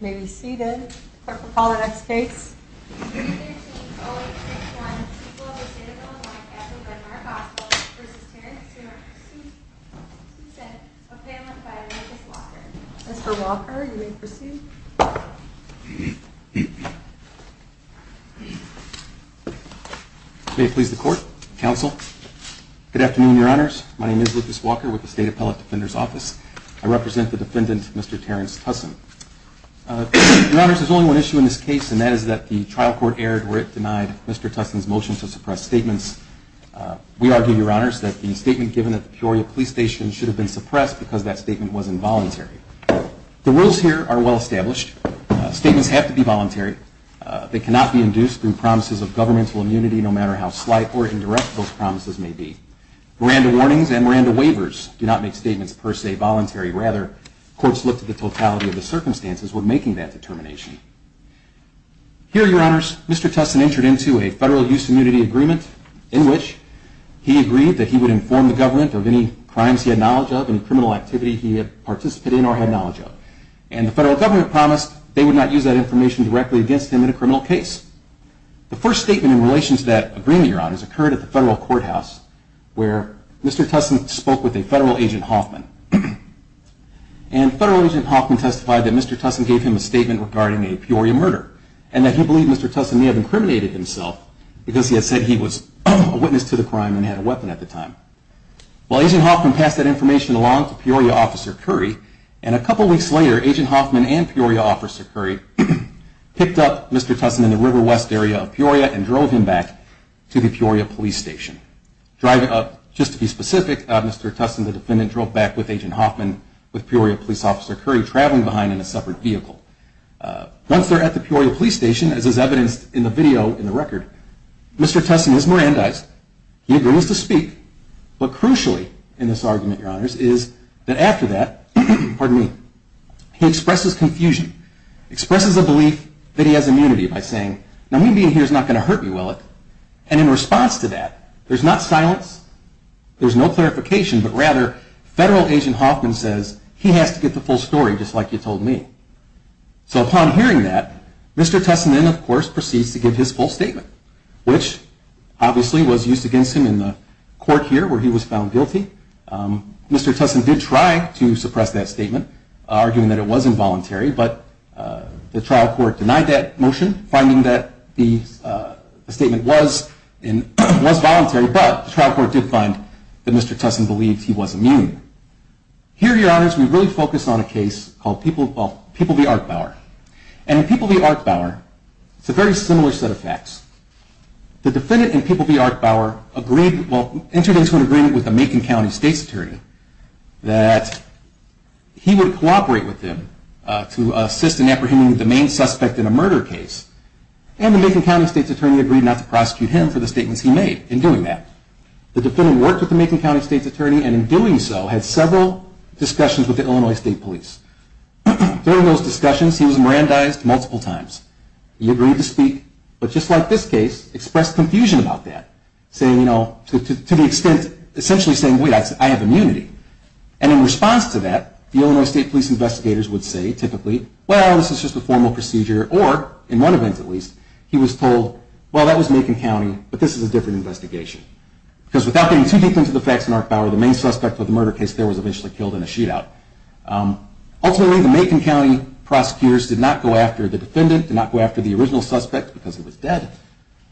May we see the court recall the next case Mr. Walker, you may proceed. May it please the court, counsel. Good afternoon, your honors. My name is Lucas Walker with the State Appellate Defender's Office. I represent the defendant, Mr. Terrence Tuson. Your honors, there's only one issue in this case, and that is that the trial court erred where it denied Mr. Tuson's motion to suppress statements. We argue, your honors, that the statement given at the Peoria Police Station should have been suppressed because that statement was involuntary. The rules here are well established. Statements have to be voluntary. They cannot be induced through promises of governmental immunity, no matter how slight or indirect those promises may be. Miranda warnings and Miranda waivers do not make statements, per se, voluntary. Rather, courts look to the totality of the circumstances when making that determination. Here, your honors, Mr. Tuson entered into a federal use immunity agreement in which he agreed that he would inform the government of any crimes he had knowledge of, any criminal activity he had participated in or had knowledge of. And the federal government promised they would not use that information directly against him in a criminal case. The first statement in relation to that agreement, your honors, occurred at the federal courthouse where Mr. Tuson spoke with a federal agent Hoffman. And federal agent Hoffman testified that Mr. Tuson gave him a statement regarding a Peoria murder and that he believed Mr. Tuson may have incriminated himself because he had said he was a witness to the crime and had a weapon at the time. While agent Hoffman passed that information along to Peoria officer Curry, and a couple weeks later, agent Hoffman and Peoria officer Curry picked up Mr. Tuson in the River West area of Peoria and drove him back to the Peoria police station. Just to be specific, Mr. Tuson, the defendant, drove back with agent Hoffman with Peoria police officer Curry traveling behind in a separate vehicle. Once they're at the Peoria police station, as is evidenced in the video in the record, Mr. Tuson is Mirandized. He agrees to speak. But crucially in this argument, your honors, is that after that, he expresses confusion, expresses a belief that he has immunity by saying, now me being here is not going to hurt me, will it? And in response to that, there's not silence, there's no clarification, but rather federal agent Hoffman says he has to get the full story just like you told me. So upon hearing that, Mr. Tuson then of course proceeds to give his full statement, which obviously was used against him in the court here where he was found guilty. Mr. Tuson did try to suppress that statement, arguing that it was involuntary, but the trial court denied that motion, finding that the statement was voluntary, but the trial court did find that Mr. Tuson believed he was immune. Here, your honors, we really focus on a case called People v. Arkbauer. And in People v. Arkbauer, it's a very similar set of facts. The defendant in People v. Arkbauer entered into an agreement with the Macon County State's Attorney that he would cooperate with him to assist in apprehending the main suspect in a murder case. And the Macon County State's Attorney agreed not to prosecute him for the statements he made in doing that. The defendant worked with the Macon County State's Attorney, and in doing so, had several discussions with the Illinois State Police. During those discussions, he was Mirandized multiple times. He agreed to speak, but just like this case, expressed confusion about that, saying, you know, to the extent, essentially saying, wait, I have immunity. And in response to that, the Illinois State Police investigators would say, typically, well, this is just a formal procedure. Or, in one event at least, he was told, well, that was Macon County, but this is a different investigation. Because without getting too deep into the facts in Arkbauer, the main suspect of the murder case there was eventually killed in a shootout. Ultimately, the Macon County prosecutors did not go after the defendant, did not go after the original suspect, because he was dead.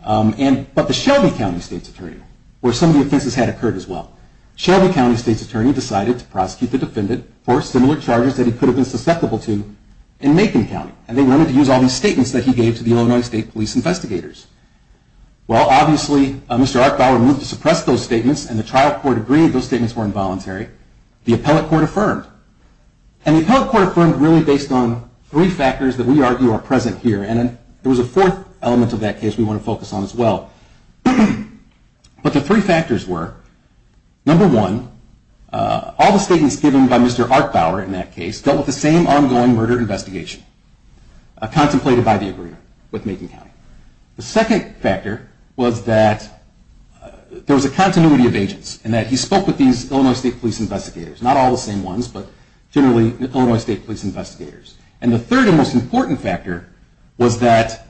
But the Shelby County State's Attorney, where some of the offenses had occurred as well, Shelby County State's Attorney decided to prosecute the defendant for similar charges that he could have been susceptible to in Macon County. And they wanted to use all these statements that he gave to the Illinois State Police investigators. Well, obviously, Mr. Arkbauer moved to suppress those statements, and the trial court agreed those statements were involuntary. The appellate court affirmed. And the appellate court affirmed really based on three factors that we argue are present here. And there was a fourth element of that case we want to focus on as well. But the three factors were, number one, all the statements given by Mr. Arkbauer in that case dealt with the same ongoing murder investigation, contemplated by the agreement with Macon County. The second factor was that there was a continuity of agents, and that he spoke with these Illinois State Police investigators. Not all the same ones, but generally Illinois State Police investigators. And the third and most important factor was that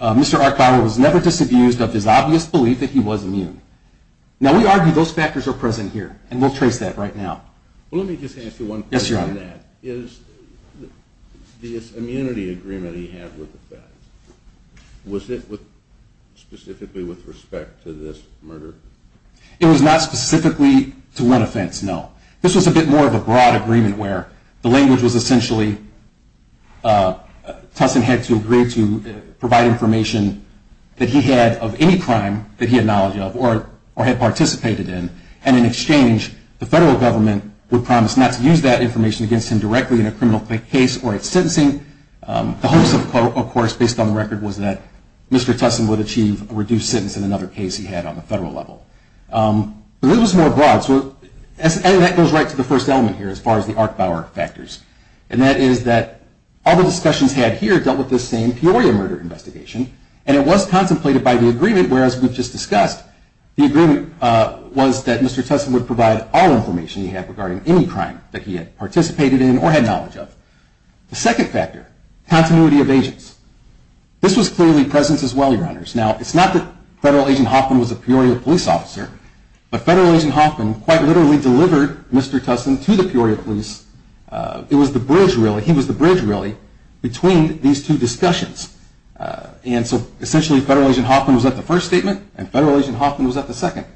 Mr. Arkbauer was never disabused of his obvious belief that he was immune. Now, we argue those factors are present here, and we'll trace that right now. Well, let me just ask you one question on that. Yes, Your Honor. Is this immunity agreement he had with the feds, was it specifically with respect to this murder? It was not specifically to one offense, no. This was a bit more of a broad agreement where the language was essentially, Tussin had to agree to provide information that he had of any crime that he had knowledge of or had participated in. And in exchange, the federal government would promise not to use that information against him directly in a criminal case or at sentencing. The hopes, of course, based on the record was that Mr. Tussin would achieve a reduced sentence in another case he had on the federal level. But it was more broad, and that goes right to the first element here as far as the Arkbauer factors. And that is that all the discussions had here dealt with the same Peoria murder investigation, and it was contemplated by the agreement where, as we've just discussed, the agreement was that Mr. Tussin would provide all information he had regarding any crime that he had participated in or had knowledge of. The second factor, continuity of agents. This was clearly present as well, Your Honors. Now, it's not that Federal Agent Hoffman was a Peoria police officer, but Federal Agent Hoffman quite literally delivered Mr. Tussin to the Peoria police. It was the bridge, really. He was the bridge, really, between these two discussions. And so essentially, Federal Agent Hoffman was at the first statement, and Federal Agent Hoffman was at the second.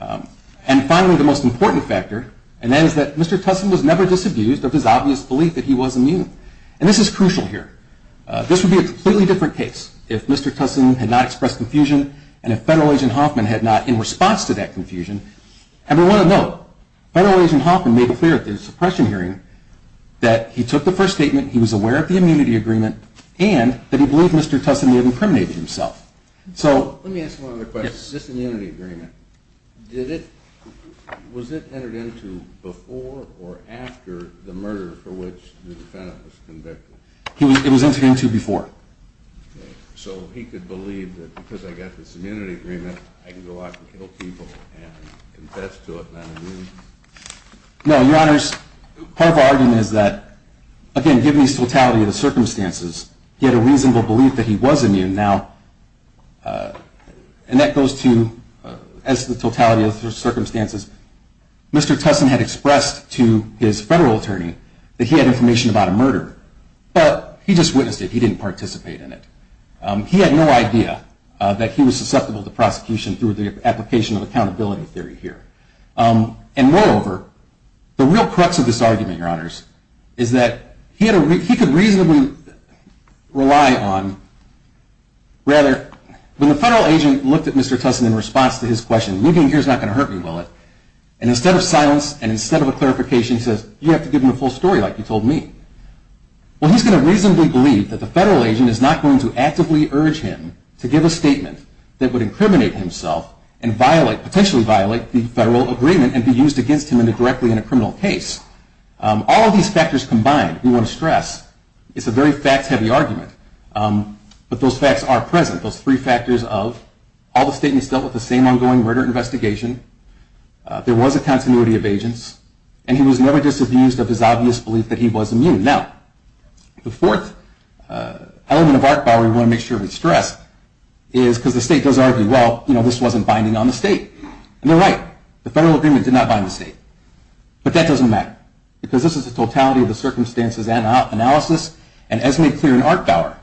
And finally, the most important factor, and that is that Mr. Tussin was never disabused of his obvious belief that he was immune. And this is crucial here. This would be a completely different case if Mr. Tussin had not expressed confusion and if Federal Agent Hoffman had not, in response to that confusion. And we want to note, Federal Agent Hoffman made it clear at the suppression hearing that he took the first statement, he was aware of the immunity agreement, and that he believed Mr. Tussin may have incriminated himself. Let me ask one other question. This immunity agreement, was it entered into before or after the murder for which the defendant was convicted? It was entered into before. So he could believe that because I got this immunity agreement, I can go out and kill people and confess to it not being immune? No, Your Honors, part of our argument is that, again, given his totality of the circumstances, he had a reasonable belief that he was immune. Now, and that goes to, as to the totality of the circumstances, Mr. Tussin had expressed to his federal attorney that he had information about a murder. But he just witnessed it. He didn't participate in it. He had no idea that he was susceptible to prosecution through the application of accountability theory here. And moreover, the real crux of this argument, Your Honors, is that he could reasonably rely on, rather, when the federal agent looked at Mr. Tussin in response to his question, leaving here is not going to hurt me, will it? And instead of silence and instead of a clarification, he says, you have to give him the full story like you told me. Well, he's going to reasonably believe that the federal agent is not going to actively urge him to give a statement that would incriminate himself and potentially violate the federal agreement and be used against him indirectly in a criminal case. All of these factors combined, we want to stress, it's a very fact-heavy argument. But those facts are present, those three factors of all the statements dealt with the same ongoing murder investigation, there was a continuity of agents, and he was never disabused of his obvious belief that he was immune. Now, the fourth element of Art Bauer we want to make sure we stress is because the state does argue, well, you know, this wasn't binding on the state. And they're right. The federal agreement did not bind the state. But that doesn't matter because this is the totality of the circumstances analysis. And as made clear in Art Bauer,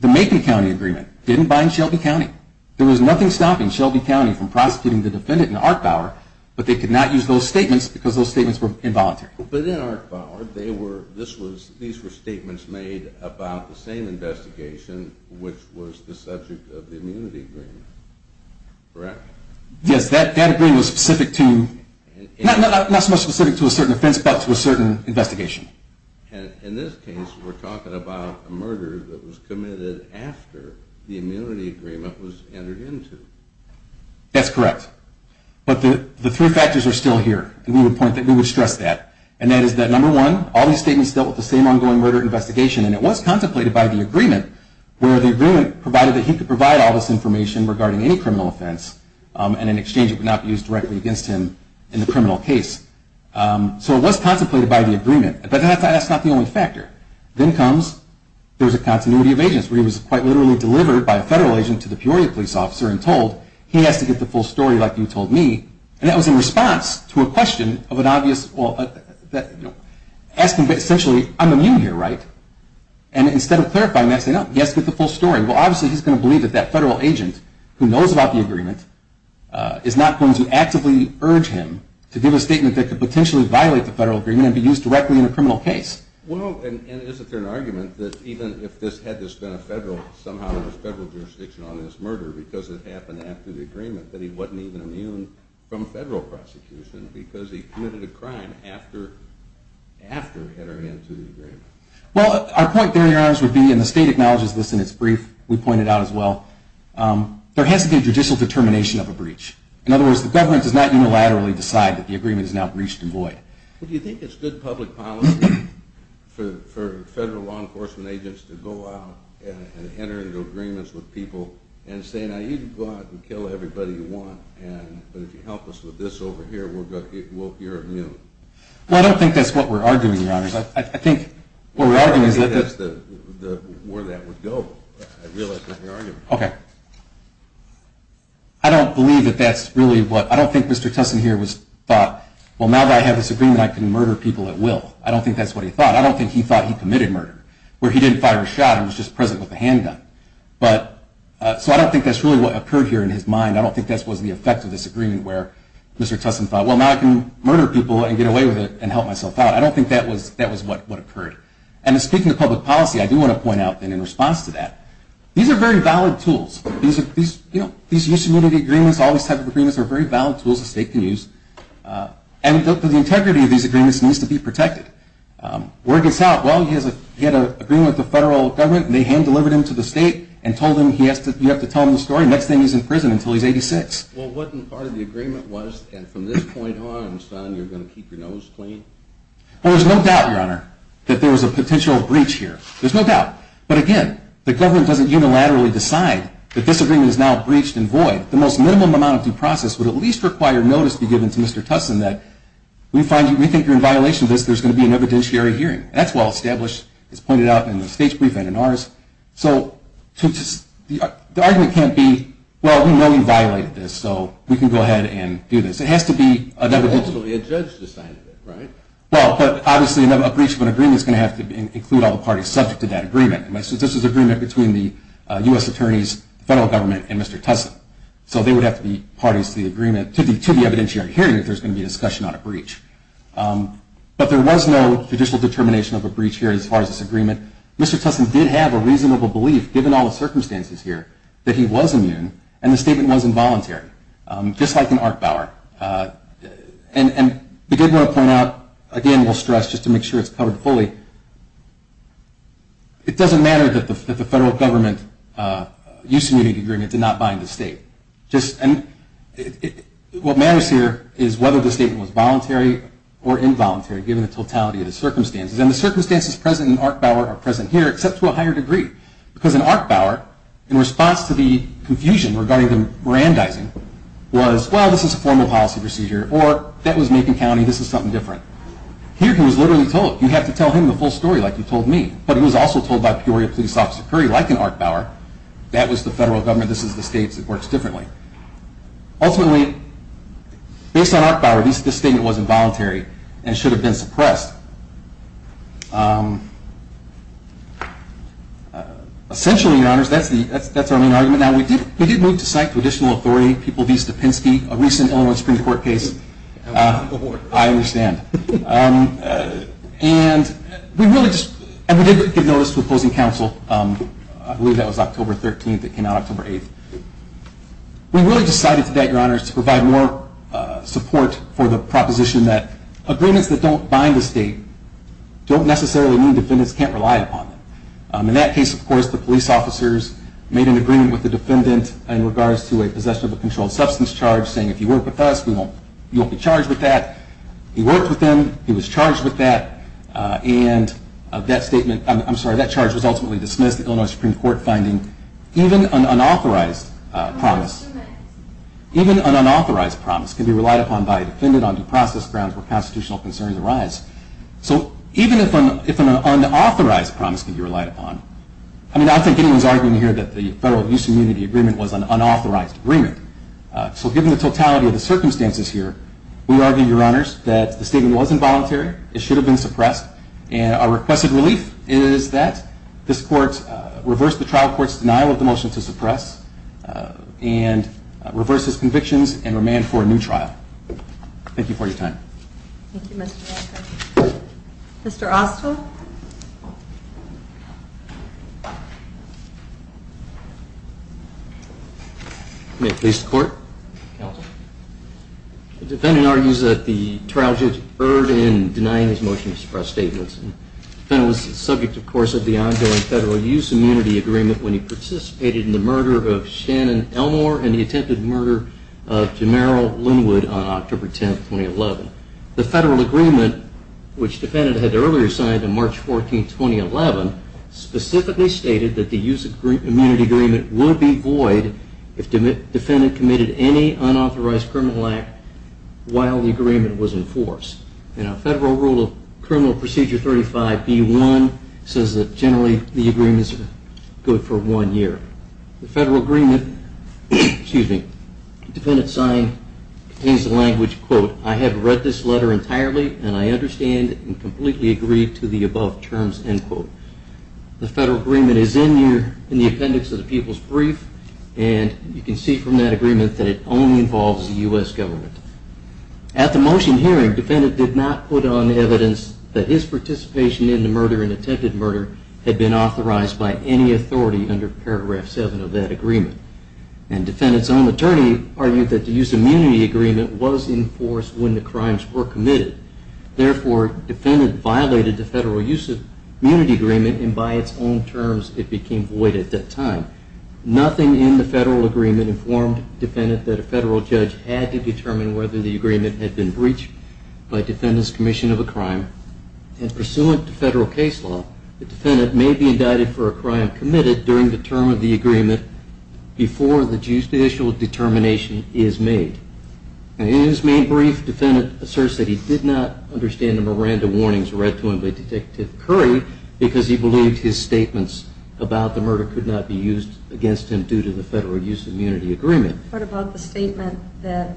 the Macon County agreement didn't bind Shelby County. There was nothing stopping Shelby County from prosecuting the defendant in Art Bauer, but they could not use those statements because those statements were involuntary. But in Art Bauer, these were statements made about the same investigation, which was the subject of the immunity agreement, correct? Yes, that agreement was specific to, not so much specific to a certain offense, but to a certain investigation. In this case, we're talking about a murder that was committed after the immunity agreement was entered into. That's correct. But the three factors are still here, and we would stress that. And that is that, number one, all these statements dealt with the same ongoing murder investigation, and it was contemplated by the agreement where the agreement provided that he could provide all this information regarding any criminal offense, and in exchange it would not be used directly against him in the criminal case. So it was contemplated by the agreement, but that's not the only factor. Then comes, there's a continuity of agents, where he was quite literally delivered by a federal agent to the Peoria police officer and told he has to get the full story like you told me, and that was in response to a question of an obvious, well, asking essentially, I'm immune here, right? And instead of clarifying that, say, no, he has to get the full story. Well, obviously he's going to believe that that federal agent who knows about the agreement is not going to actively urge him to give a statement that could potentially violate the federal agreement and be used directly in a criminal case. Well, and isn't there an argument that even if this had been somehow in the federal jurisdiction on this murder because it happened after the agreement, that he wasn't even immune from federal prosecution because he committed a crime after entering into the agreement? Well, our point there, Your Honors, would be, and the state acknowledges this in its brief, we pointed out as well, there has to be a judicial determination of a breach. In other words, the government does not unilaterally decide that the agreement is now breached and void. Well, do you think it's good public policy for federal law enforcement agents to go out and enter into agreements with people and say, now, you can go out and kill everybody you want, but if you help us with this over here, you're immune? Well, I don't think that's what we're arguing, Your Honors. I think what we're arguing is that that's the – Where that would go, I realize that we're arguing. Okay. I don't believe that that's really what – I don't think Mr. Tussin here thought, well, now that I have this agreement, I can murder people at will. I don't think that's what he thought. I don't think he thought he committed murder, where he didn't fire a shot and was just present with a handgun. So I don't think that's really what occurred here in his mind. I don't think that was the effect of this agreement where Mr. Tussin thought, well, now I can murder people and get away with it and help myself out. I don't think that was what occurred. And speaking of public policy, I do want to point out in response to that, these are very valid tools. These use immunity agreements, all these types of agreements, are very valid tools a state can use. And the integrity of these agreements needs to be protected. Word gets out, well, he had an agreement with the federal government, and they hand-delivered him to the state and told him you have to tell him the story, and next thing he's in prison until he's 86. Well, wasn't part of the agreement was, and from this point on, son, you're going to keep your nose clean? Well, there's no doubt, Your Honor, that there was a potential breach here. There's no doubt. But again, the government doesn't unilaterally decide that this agreement is now breached and void. The most minimum amount of due process would at least require notice to be given to Mr. Tussin that we think you're in violation of this, there's going to be an evidentiary hearing. That's well established, as pointed out in the state's brief and in ours. So the argument can't be, well, we know you violated this, so we can go ahead and do this. It has to be an evidentiary. Well, ultimately, a judge decided it, right? Well, but obviously, a breach of an agreement is going to have to include all the parties subject to that agreement. This was an agreement between the U.S. Attorney's federal government and Mr. Tussin. So they would have to be parties to the agreement, to the evidentiary hearing, if there's going to be a discussion on a breach. Mr. Tussin did have a reasonable belief, given all the circumstances here, that he was immune, and the statement was involuntary, just like in Arc Bauer. And again, I want to point out, again, we'll stress, just to make sure it's covered fully, it doesn't matter that the federal government used an immunity agreement to not bind the state. What matters here is whether the statement was voluntary or involuntary, given the totality of the circumstances. And the circumstances present in Arc Bauer are present here, except to a higher degree. Because in Arc Bauer, in response to the confusion regarding the brandizing, was, well, this is a formal policy procedure, or that was Macon County, this is something different. Here, he was literally told, you have to tell him the full story like you told me. But he was also told by Peoria Police Officer Curry, like in Arc Bauer, that was the federal government, this is the states, it works differently. Ultimately, based on Arc Bauer, this statement was involuntary and should have been suppressed. Essentially, your honors, that's our main argument. Now, we did move to cite traditional authority, people of east of Penske, a recent Illinois Supreme Court case. I understand. And we really just, and we did give notice to opposing counsel, I believe that was October 13th, it came out October 8th. We really decided today, your honors, to provide more support for the proposition that agreements that don't bind the state don't necessarily mean defendants can't rely upon them. In that case, of course, the police officers made an agreement with the defendant in regards to a possession of a controlled substance charge, saying, if you work with us, you won't be charged with that. He worked with them, he was charged with that, and that statement, I'm sorry, that charge was ultimately dismissed, the Illinois Supreme Court finding, even an unauthorized promise, even an unauthorized promise can be relied upon by a defendant on due process grounds where constitutional concerns arise. So even if an unauthorized promise can be relied upon, I mean, I don't think anyone's arguing here that the Federal Abuse Immunity Agreement was an unauthorized agreement. So given the totality of the circumstances here, we argue, your honors, that the statement was involuntary, it should have been suppressed, and our requested relief is that this court reverse the trial court's denial of the motion to suppress and reverse his convictions and remand for a new trial. Thank you for your time. Thank you, Mr. Osler. Mr. Oster? May it please the Court? Counsel? The defendant argues that the trial judge erred in denying his motion to suppress statements. The defendant was subject, of course, of the ongoing Federal Abuse Immunity Agreement when he participated in the murder of Shannon Elmore and the attempted murder of Jamerrill Linwood on October 10, 2011. The Federal Agreement, which the defendant had earlier signed on March 14, 2011, specifically stated that the Abuse Immunity Agreement would be void if the defendant committed any unauthorized criminal act while the agreement was in force. In our Federal Rule of Criminal Procedure 35B1, it says that generally the agreement is good for one year. The Federal Agreement, excuse me, the defendant's sign contains the language, quote, I have read this letter entirely and I understand and completely agree to the above terms, end quote. The Federal Agreement is in here in the appendix of the People's Brief, and you can see from that agreement that it only involves the U.S. government. At the motion hearing, the defendant did not put on evidence that his participation in the murder and attempted murder had been authorized by any authority under paragraph 7 of that agreement. And the defendant's own attorney argued that the Abuse Immunity Agreement was in force when the crimes were committed. Therefore, the defendant violated the Federal Abuse Immunity Agreement, and by its own terms it became void at that time. Nothing in the Federal Agreement informed the defendant that a federal judge had to determine whether the agreement had been breached by the Defendant's Commission of a Crime. And pursuant to Federal case law, the defendant may be indicted for a crime committed during the term of the agreement before the judicial determination is made. In his main brief, the defendant asserts that he did not understand the Miranda warnings read to him by Detective Curry because he believed his statements about the murder could not be used against him due to the Federal Abuse Immunity Agreement. What about the statement that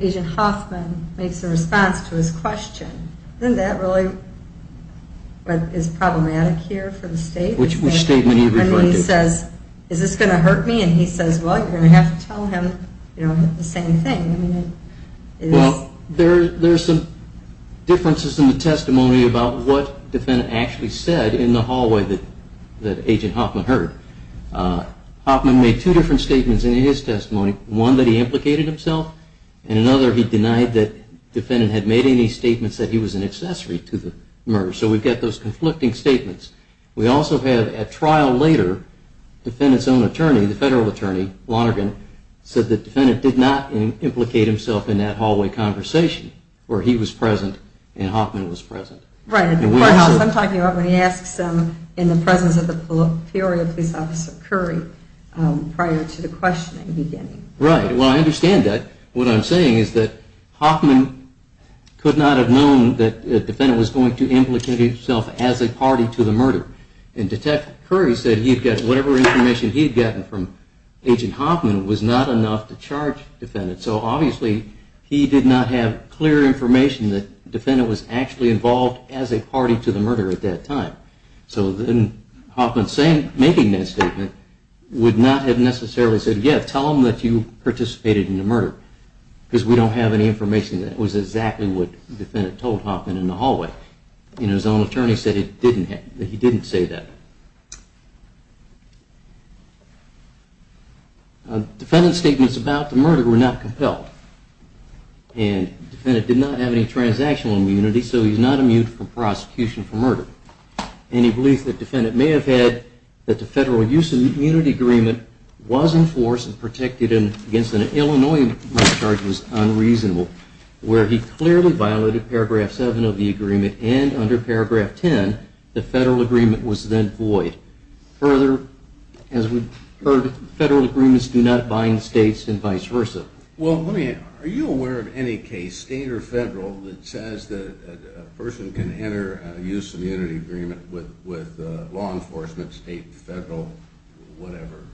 Agent Hoffman makes in response to his question? Isn't that really what is problematic here for the state? Which statement are you referring to? When he says, is this going to hurt me? And he says, well, you're going to have to tell him the same thing. Well, there are some differences in the testimony about what the defendant actually said in the hallway that Agent Hoffman heard. Hoffman made two different statements in his testimony, one that he implicated himself, and another he denied that the defendant had made any statements that he was an accessory to the murder. So we've got those conflicting statements. We also have, at trial later, the defendant's own attorney, the federal attorney, Lonergan, said the defendant did not implicate himself in that hallway conversation where he was present and Hoffman was present. Right. I'm talking about when he asks him in the presence of the Peoria police officer, Curry, prior to the questioning beginning. Right. Well, I understand that. What I'm saying is that Hoffman could not have known that the defendant was going to implicate himself as a party to the murder. And Detective Curry said whatever information he had gotten from Agent Hoffman was not enough to charge the defendant. So obviously, he did not have clear information that the defendant was actually involved as a party to the murder at that time. So then Hoffman making that statement would not have necessarily said, yes, tell him that you participated in the murder, because we don't have any information that was exactly what the defendant told Hoffman in the hallway. And his own attorney said that he didn't say that. Defendant's statements about the murder were not compelled. And the defendant did not have any transactional immunity, so he's not immune from prosecution for murder. And he believes that the defendant may have had that the Federal Use of Immunity Agreement was enforced and protected against an Illinois charge that was unreasonable, where he clearly violated paragraph 7 of the agreement and under paragraph 10, the Federal Agreement was then void. Further, as we've heard, Federal Agreements do not bind states and vice versa. Well, are you aware of any case, state or federal, that says that a person can enter a Use of Immunity Agreement with law enforcement, state, federal, whatever,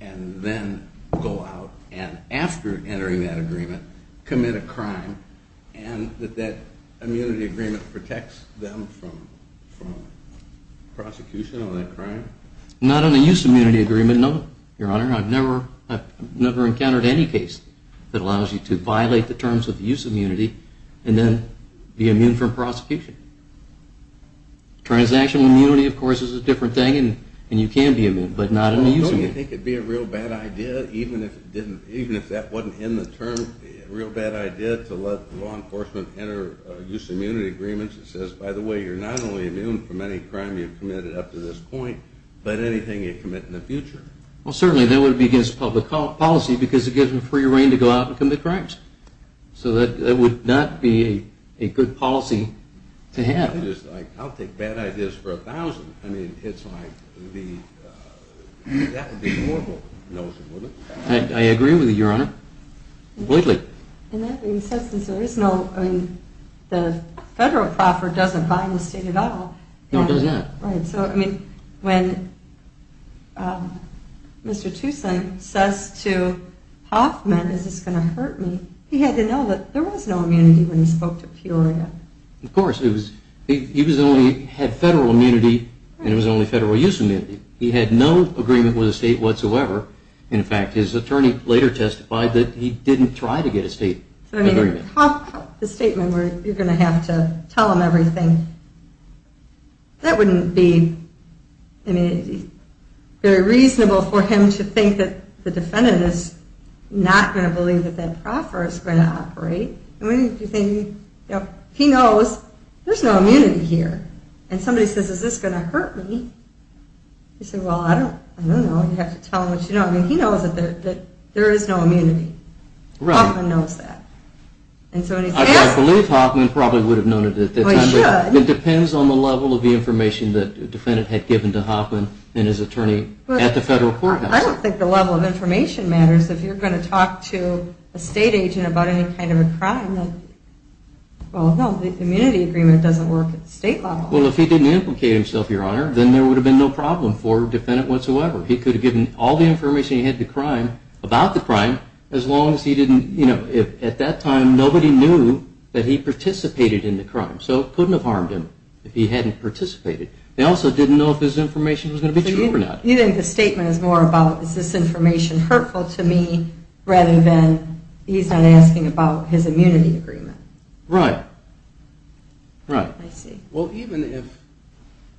and then go out, and after entering that agreement, commit a crime, and that that immunity agreement protects them from prosecution of that crime? Not under the Use of Immunity Agreement, no, Your Honor. I've never encountered any case that allows you to violate the terms of Use of Immunity and then be immune from prosecution. Transactional immunity, of course, is a different thing, and you can be immune, but not under Use of Immunity. Do you think it would be a real bad idea, even if that wasn't in the terms, a real bad idea to let law enforcement enter Use of Immunity Agreements that says, by the way, you're not only immune from any crime you've committed up to this point, but anything you commit in the future? Well, certainly that would be against public policy, because it gives them free reign to go out and commit crimes. So that would not be a good policy to have. I'll take bad ideas for a thousand. I mean, it's like, that would be a horrible notion, wouldn't it? I agree with you, Your Honor, completely. And that being said, since there is no, I mean, the federal proffer doesn't buy in the state at all. No, it does not. Right. So, I mean, when Mr. Toussaint says to Hoffman, is this going to hurt me, he had to know that there was no immunity when he spoke to Peoria. Of course. He only had federal immunity, and it was only federal use immunity. He had no agreement with the state whatsoever. In fact, his attorney later testified that he didn't try to get a state agreement. I mean, the statement where you're going to have to tell him everything, that wouldn't be very reasonable for him to think that the defendant is not going to believe that that proffer is going to operate. I mean, he knows there's no immunity here. And somebody says, is this going to hurt me? He said, well, I don't know. You have to tell him what you know. I mean, he knows that there is no immunity. Hoffman knows that. I believe Hoffman probably would have known it at that time. Well, he should. It depends on the level of the information that the defendant had given to Hoffman and his attorney at the federal courthouse. I don't think the level of information matters if you're going to talk to a state agent about any kind of a crime. Well, no, the immunity agreement doesn't work at the state level. Well, if he didn't implicate himself, Your Honor, then there would have been no problem for the defendant whatsoever. He could have given all the information he had about the crime as long as he didn't, you know, at that time, nobody knew that he participated in the crime. So it couldn't have harmed him if he hadn't participated. They also didn't know if his information was going to be true or not. You think the statement is more about is this information hurtful to me rather than he's not asking about his immunity agreement? Right. Right. I see. Well, even if,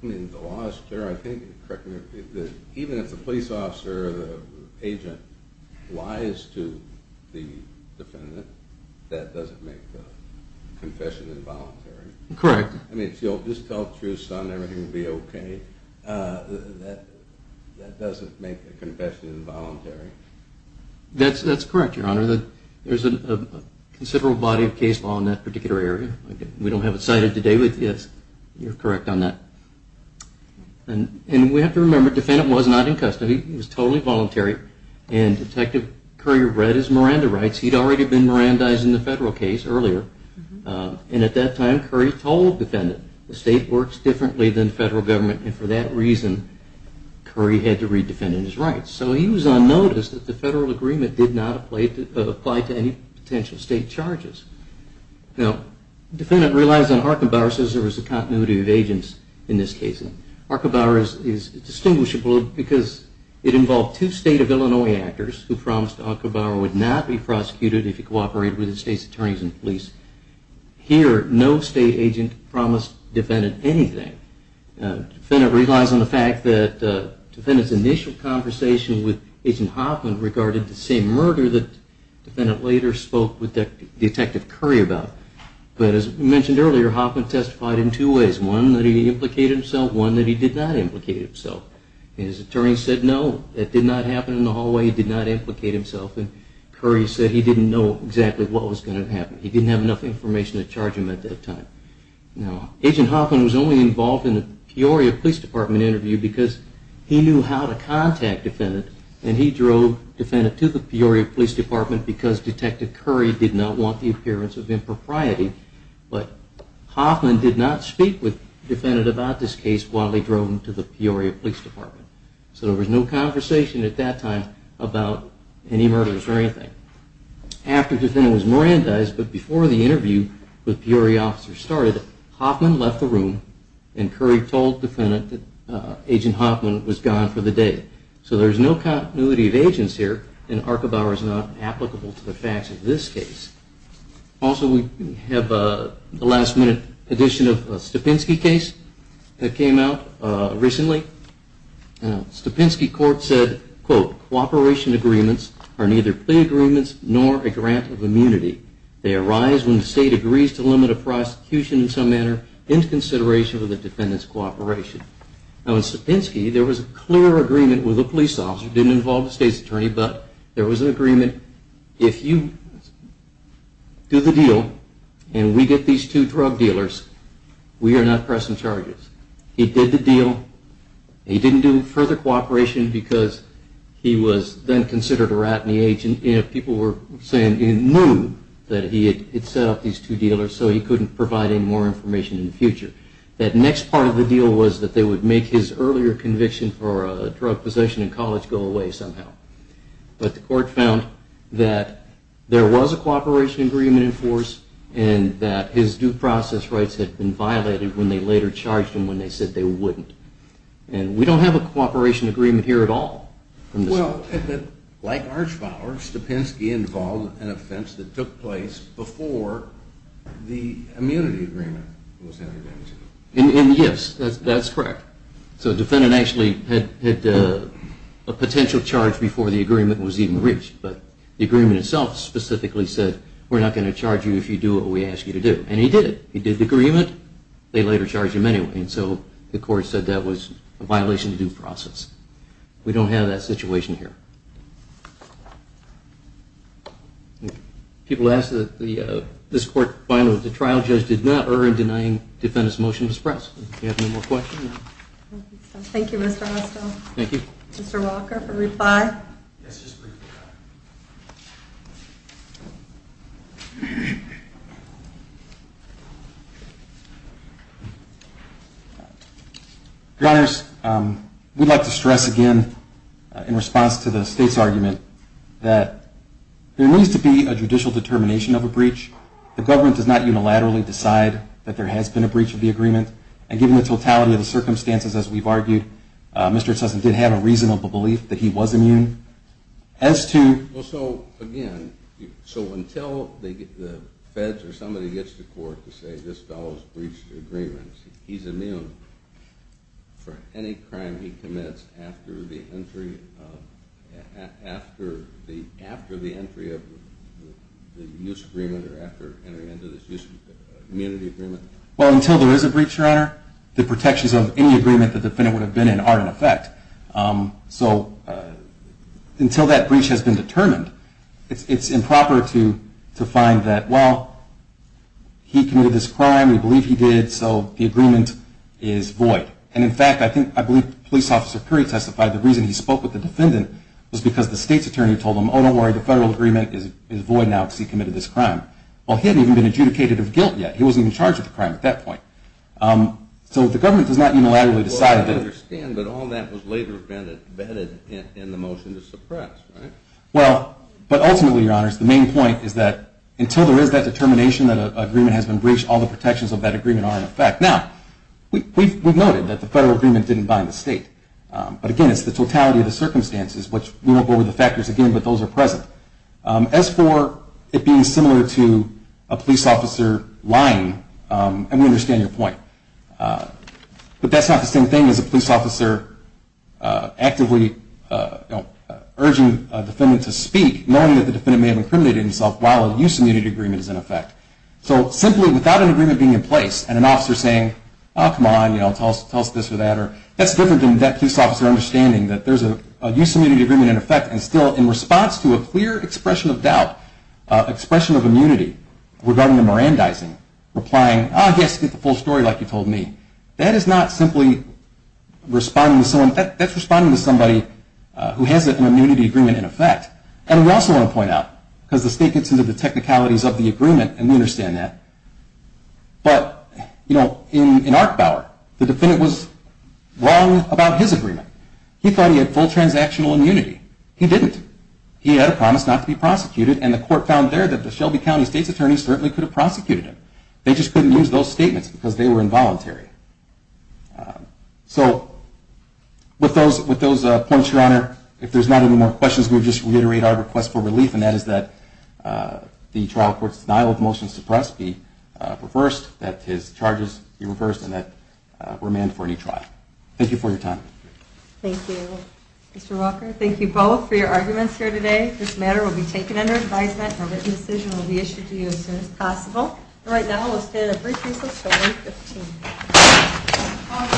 I mean, the law is clear, I think, correct me if I'm wrong, even if the police officer or the agent lies to the defendant, that doesn't make the confession involuntary. Correct. I mean, if he'll just tell the truth, son, everything will be okay, that doesn't make the confession involuntary. That's correct, Your Honor. There's a considerable body of case law in that particular area. We don't have it cited today, but yes, you're correct on that. And we have to remember, the defendant was not in custody. He was totally voluntary, and Detective Curry read his Miranda rights. He'd already been Mirandized in the federal case earlier. And at that time, Curry told the defendant, the state works differently than the federal government, and for that reason, Curry had to read the defendant's rights. So he was on notice that the federal agreement did not apply to any potential state charges. Now, the defendant relies on Arkenbauer, says there was a continuity of agents in this case. Arkenbauer is distinguishable because it involved two state of Illinois actors who promised Arkenbauer would not be prosecuted if he cooperated with the state's attorneys and police. Here, no state agent promised the defendant anything. The defendant relies on the fact that the defendant's initial conversation with Agent Hoffman regarded the same murder that the defendant later spoke with Detective Curry about. But as mentioned earlier, Hoffman testified in two ways. One, that he implicated himself. One, that he did not implicate himself. His attorney said no, it did not happen in the hallway, he did not implicate himself. And Curry said he didn't know exactly what was going to happen. He didn't have enough information to charge him at that time. Now, Agent Hoffman was only involved in the Peoria Police Department interview because he knew how to contact the defendant. And he drove the defendant to the Peoria Police Department because Detective Curry did not want the appearance of impropriety. But Hoffman did not speak with the defendant about this case while he drove him to the Peoria Police Department. So there was no conversation at that time about any murders or anything. After the defendant was Mirandized, but before the interview with Peoria officers started, Hoffman left the room and Curry told the defendant that Agent Hoffman was gone for the day. So there's no continuity of agents here and Arkenbauer is not applicable to the facts of this case. Also, we have the last minute addition of a Stepinski case that came out recently. Stepinski court said, quote, Cooperation agreements are neither plea agreements nor a grant of immunity. They arise when the state agrees to limit a prosecution in some manner in consideration of the defendant's cooperation. Now, in Stepinski, there was a clear agreement with a police officer, if you do the deal and we get these two drug dealers, we are not pressing charges. He did the deal. He didn't do further cooperation because he was then considered a rat in the agent. People were saying he knew that he had set up these two dealers so he couldn't provide any more information in the future. That next part of the deal was that they would make his earlier conviction for a drug possession in college go away somehow. But the court found that there was a cooperation agreement in force and that his due process rights had been violated when they later charged him when they said they wouldn't. And we don't have a cooperation agreement here at all. Well, like Arkenbauer, Stepinski involved an offense that took place before the immunity agreement was entered into. And yes, that's correct. So the defendant actually had a potential charge before the agreement was even reached. But the agreement itself specifically said, we're not going to charge you if you do what we ask you to do. And he did it. He did the agreement. They later charged him anyway. And so the court said that was a violation of due process. We don't have that situation here. People ask that this court find that the trial judge did not err in denying the defendant's motion to express. Do we have any more questions? Thank you, Mr. Hostel. Thank you. Mr. Walker for reply. Yes, just a brief reply. Your Honors, we'd like to stress again in response to the state's argument that there needs to be a judicial determination of a breach. The government does not unilaterally decide that there has been a breach of the agreement. And given the totality of the circumstances, as we've argued, Mr. Sussman did have a reasonable belief that he was immune. As to... Well, so again, so until the feds or somebody gets to court to say this fellow's breached the agreement, he's immune for any crime he commits after the entry of the use agreement or after entering into this use immunity agreement? Well, until there is a breach, Your Honor, the protections of any agreement the defendant would have been in are in effect. So until that breach has been determined, it's improper to find that, well, he committed this crime, we believe he did, so the agreement is void. And in fact, I believe Police Officer Perry testified the reason he spoke with the defendant was because the state's attorney told him, oh, don't worry, the federal agreement is void now because he committed this crime. Well, he hadn't even been adjudicated of guilt yet. He wasn't even charged with the crime at that point. So the government does not unilaterally decide that... Well, I understand, but all that was later embedded in the motion to suppress, right? Well, but ultimately, Your Honors, the main point is that until there is that determination that an agreement has been breached, all the protections of that agreement are in effect. Now, we've noted that the federal agreement didn't bind the state. But again, it's the totality of the circumstances, which we won't go over the factors again, but those are present. As for it being similar to a police officer lying, and we understand your point, but that's not the same thing as a police officer actively urging a defendant to speak, knowing that the defendant may have incriminated himself while a use immunity agreement is in effect. So simply without an agreement being in place and an officer saying, oh, come on, tell us this or that, that's different than that police officer understanding that there's a use immunity agreement in effect and still in response to a clear expression of doubt, expression of immunity, regarding the Mirandizing, replying, ah, yes, get the full story like you told me. That is not simply responding to someone. That's responding to somebody who has an immunity agreement in effect. And we also want to point out, because the state gets into the technicalities of the agreement, and we understand that, but, you know, in Arkbauer, the defendant was wrong about his agreement. He thought he had full transactional immunity. He didn't. He had a promise not to be prosecuted, and the court found there that the Shelby County state's attorney certainly could have prosecuted him. They just couldn't use those statements because they were involuntary. So with those points, Your Honor, if there's not any more questions, we'll just reiterate our request for relief, and that is that the trial court's denial of motions suppressed be reversed, that his charges be reversed, and that we're manned for a new trial. Thank you for your time. Thank you. Mr. Walker, thank you both for your arguments here today. This matter will be taken under advisement, and a written decision will be issued to you as soon as possible. Right now, we'll stand at brief recess until 8.15.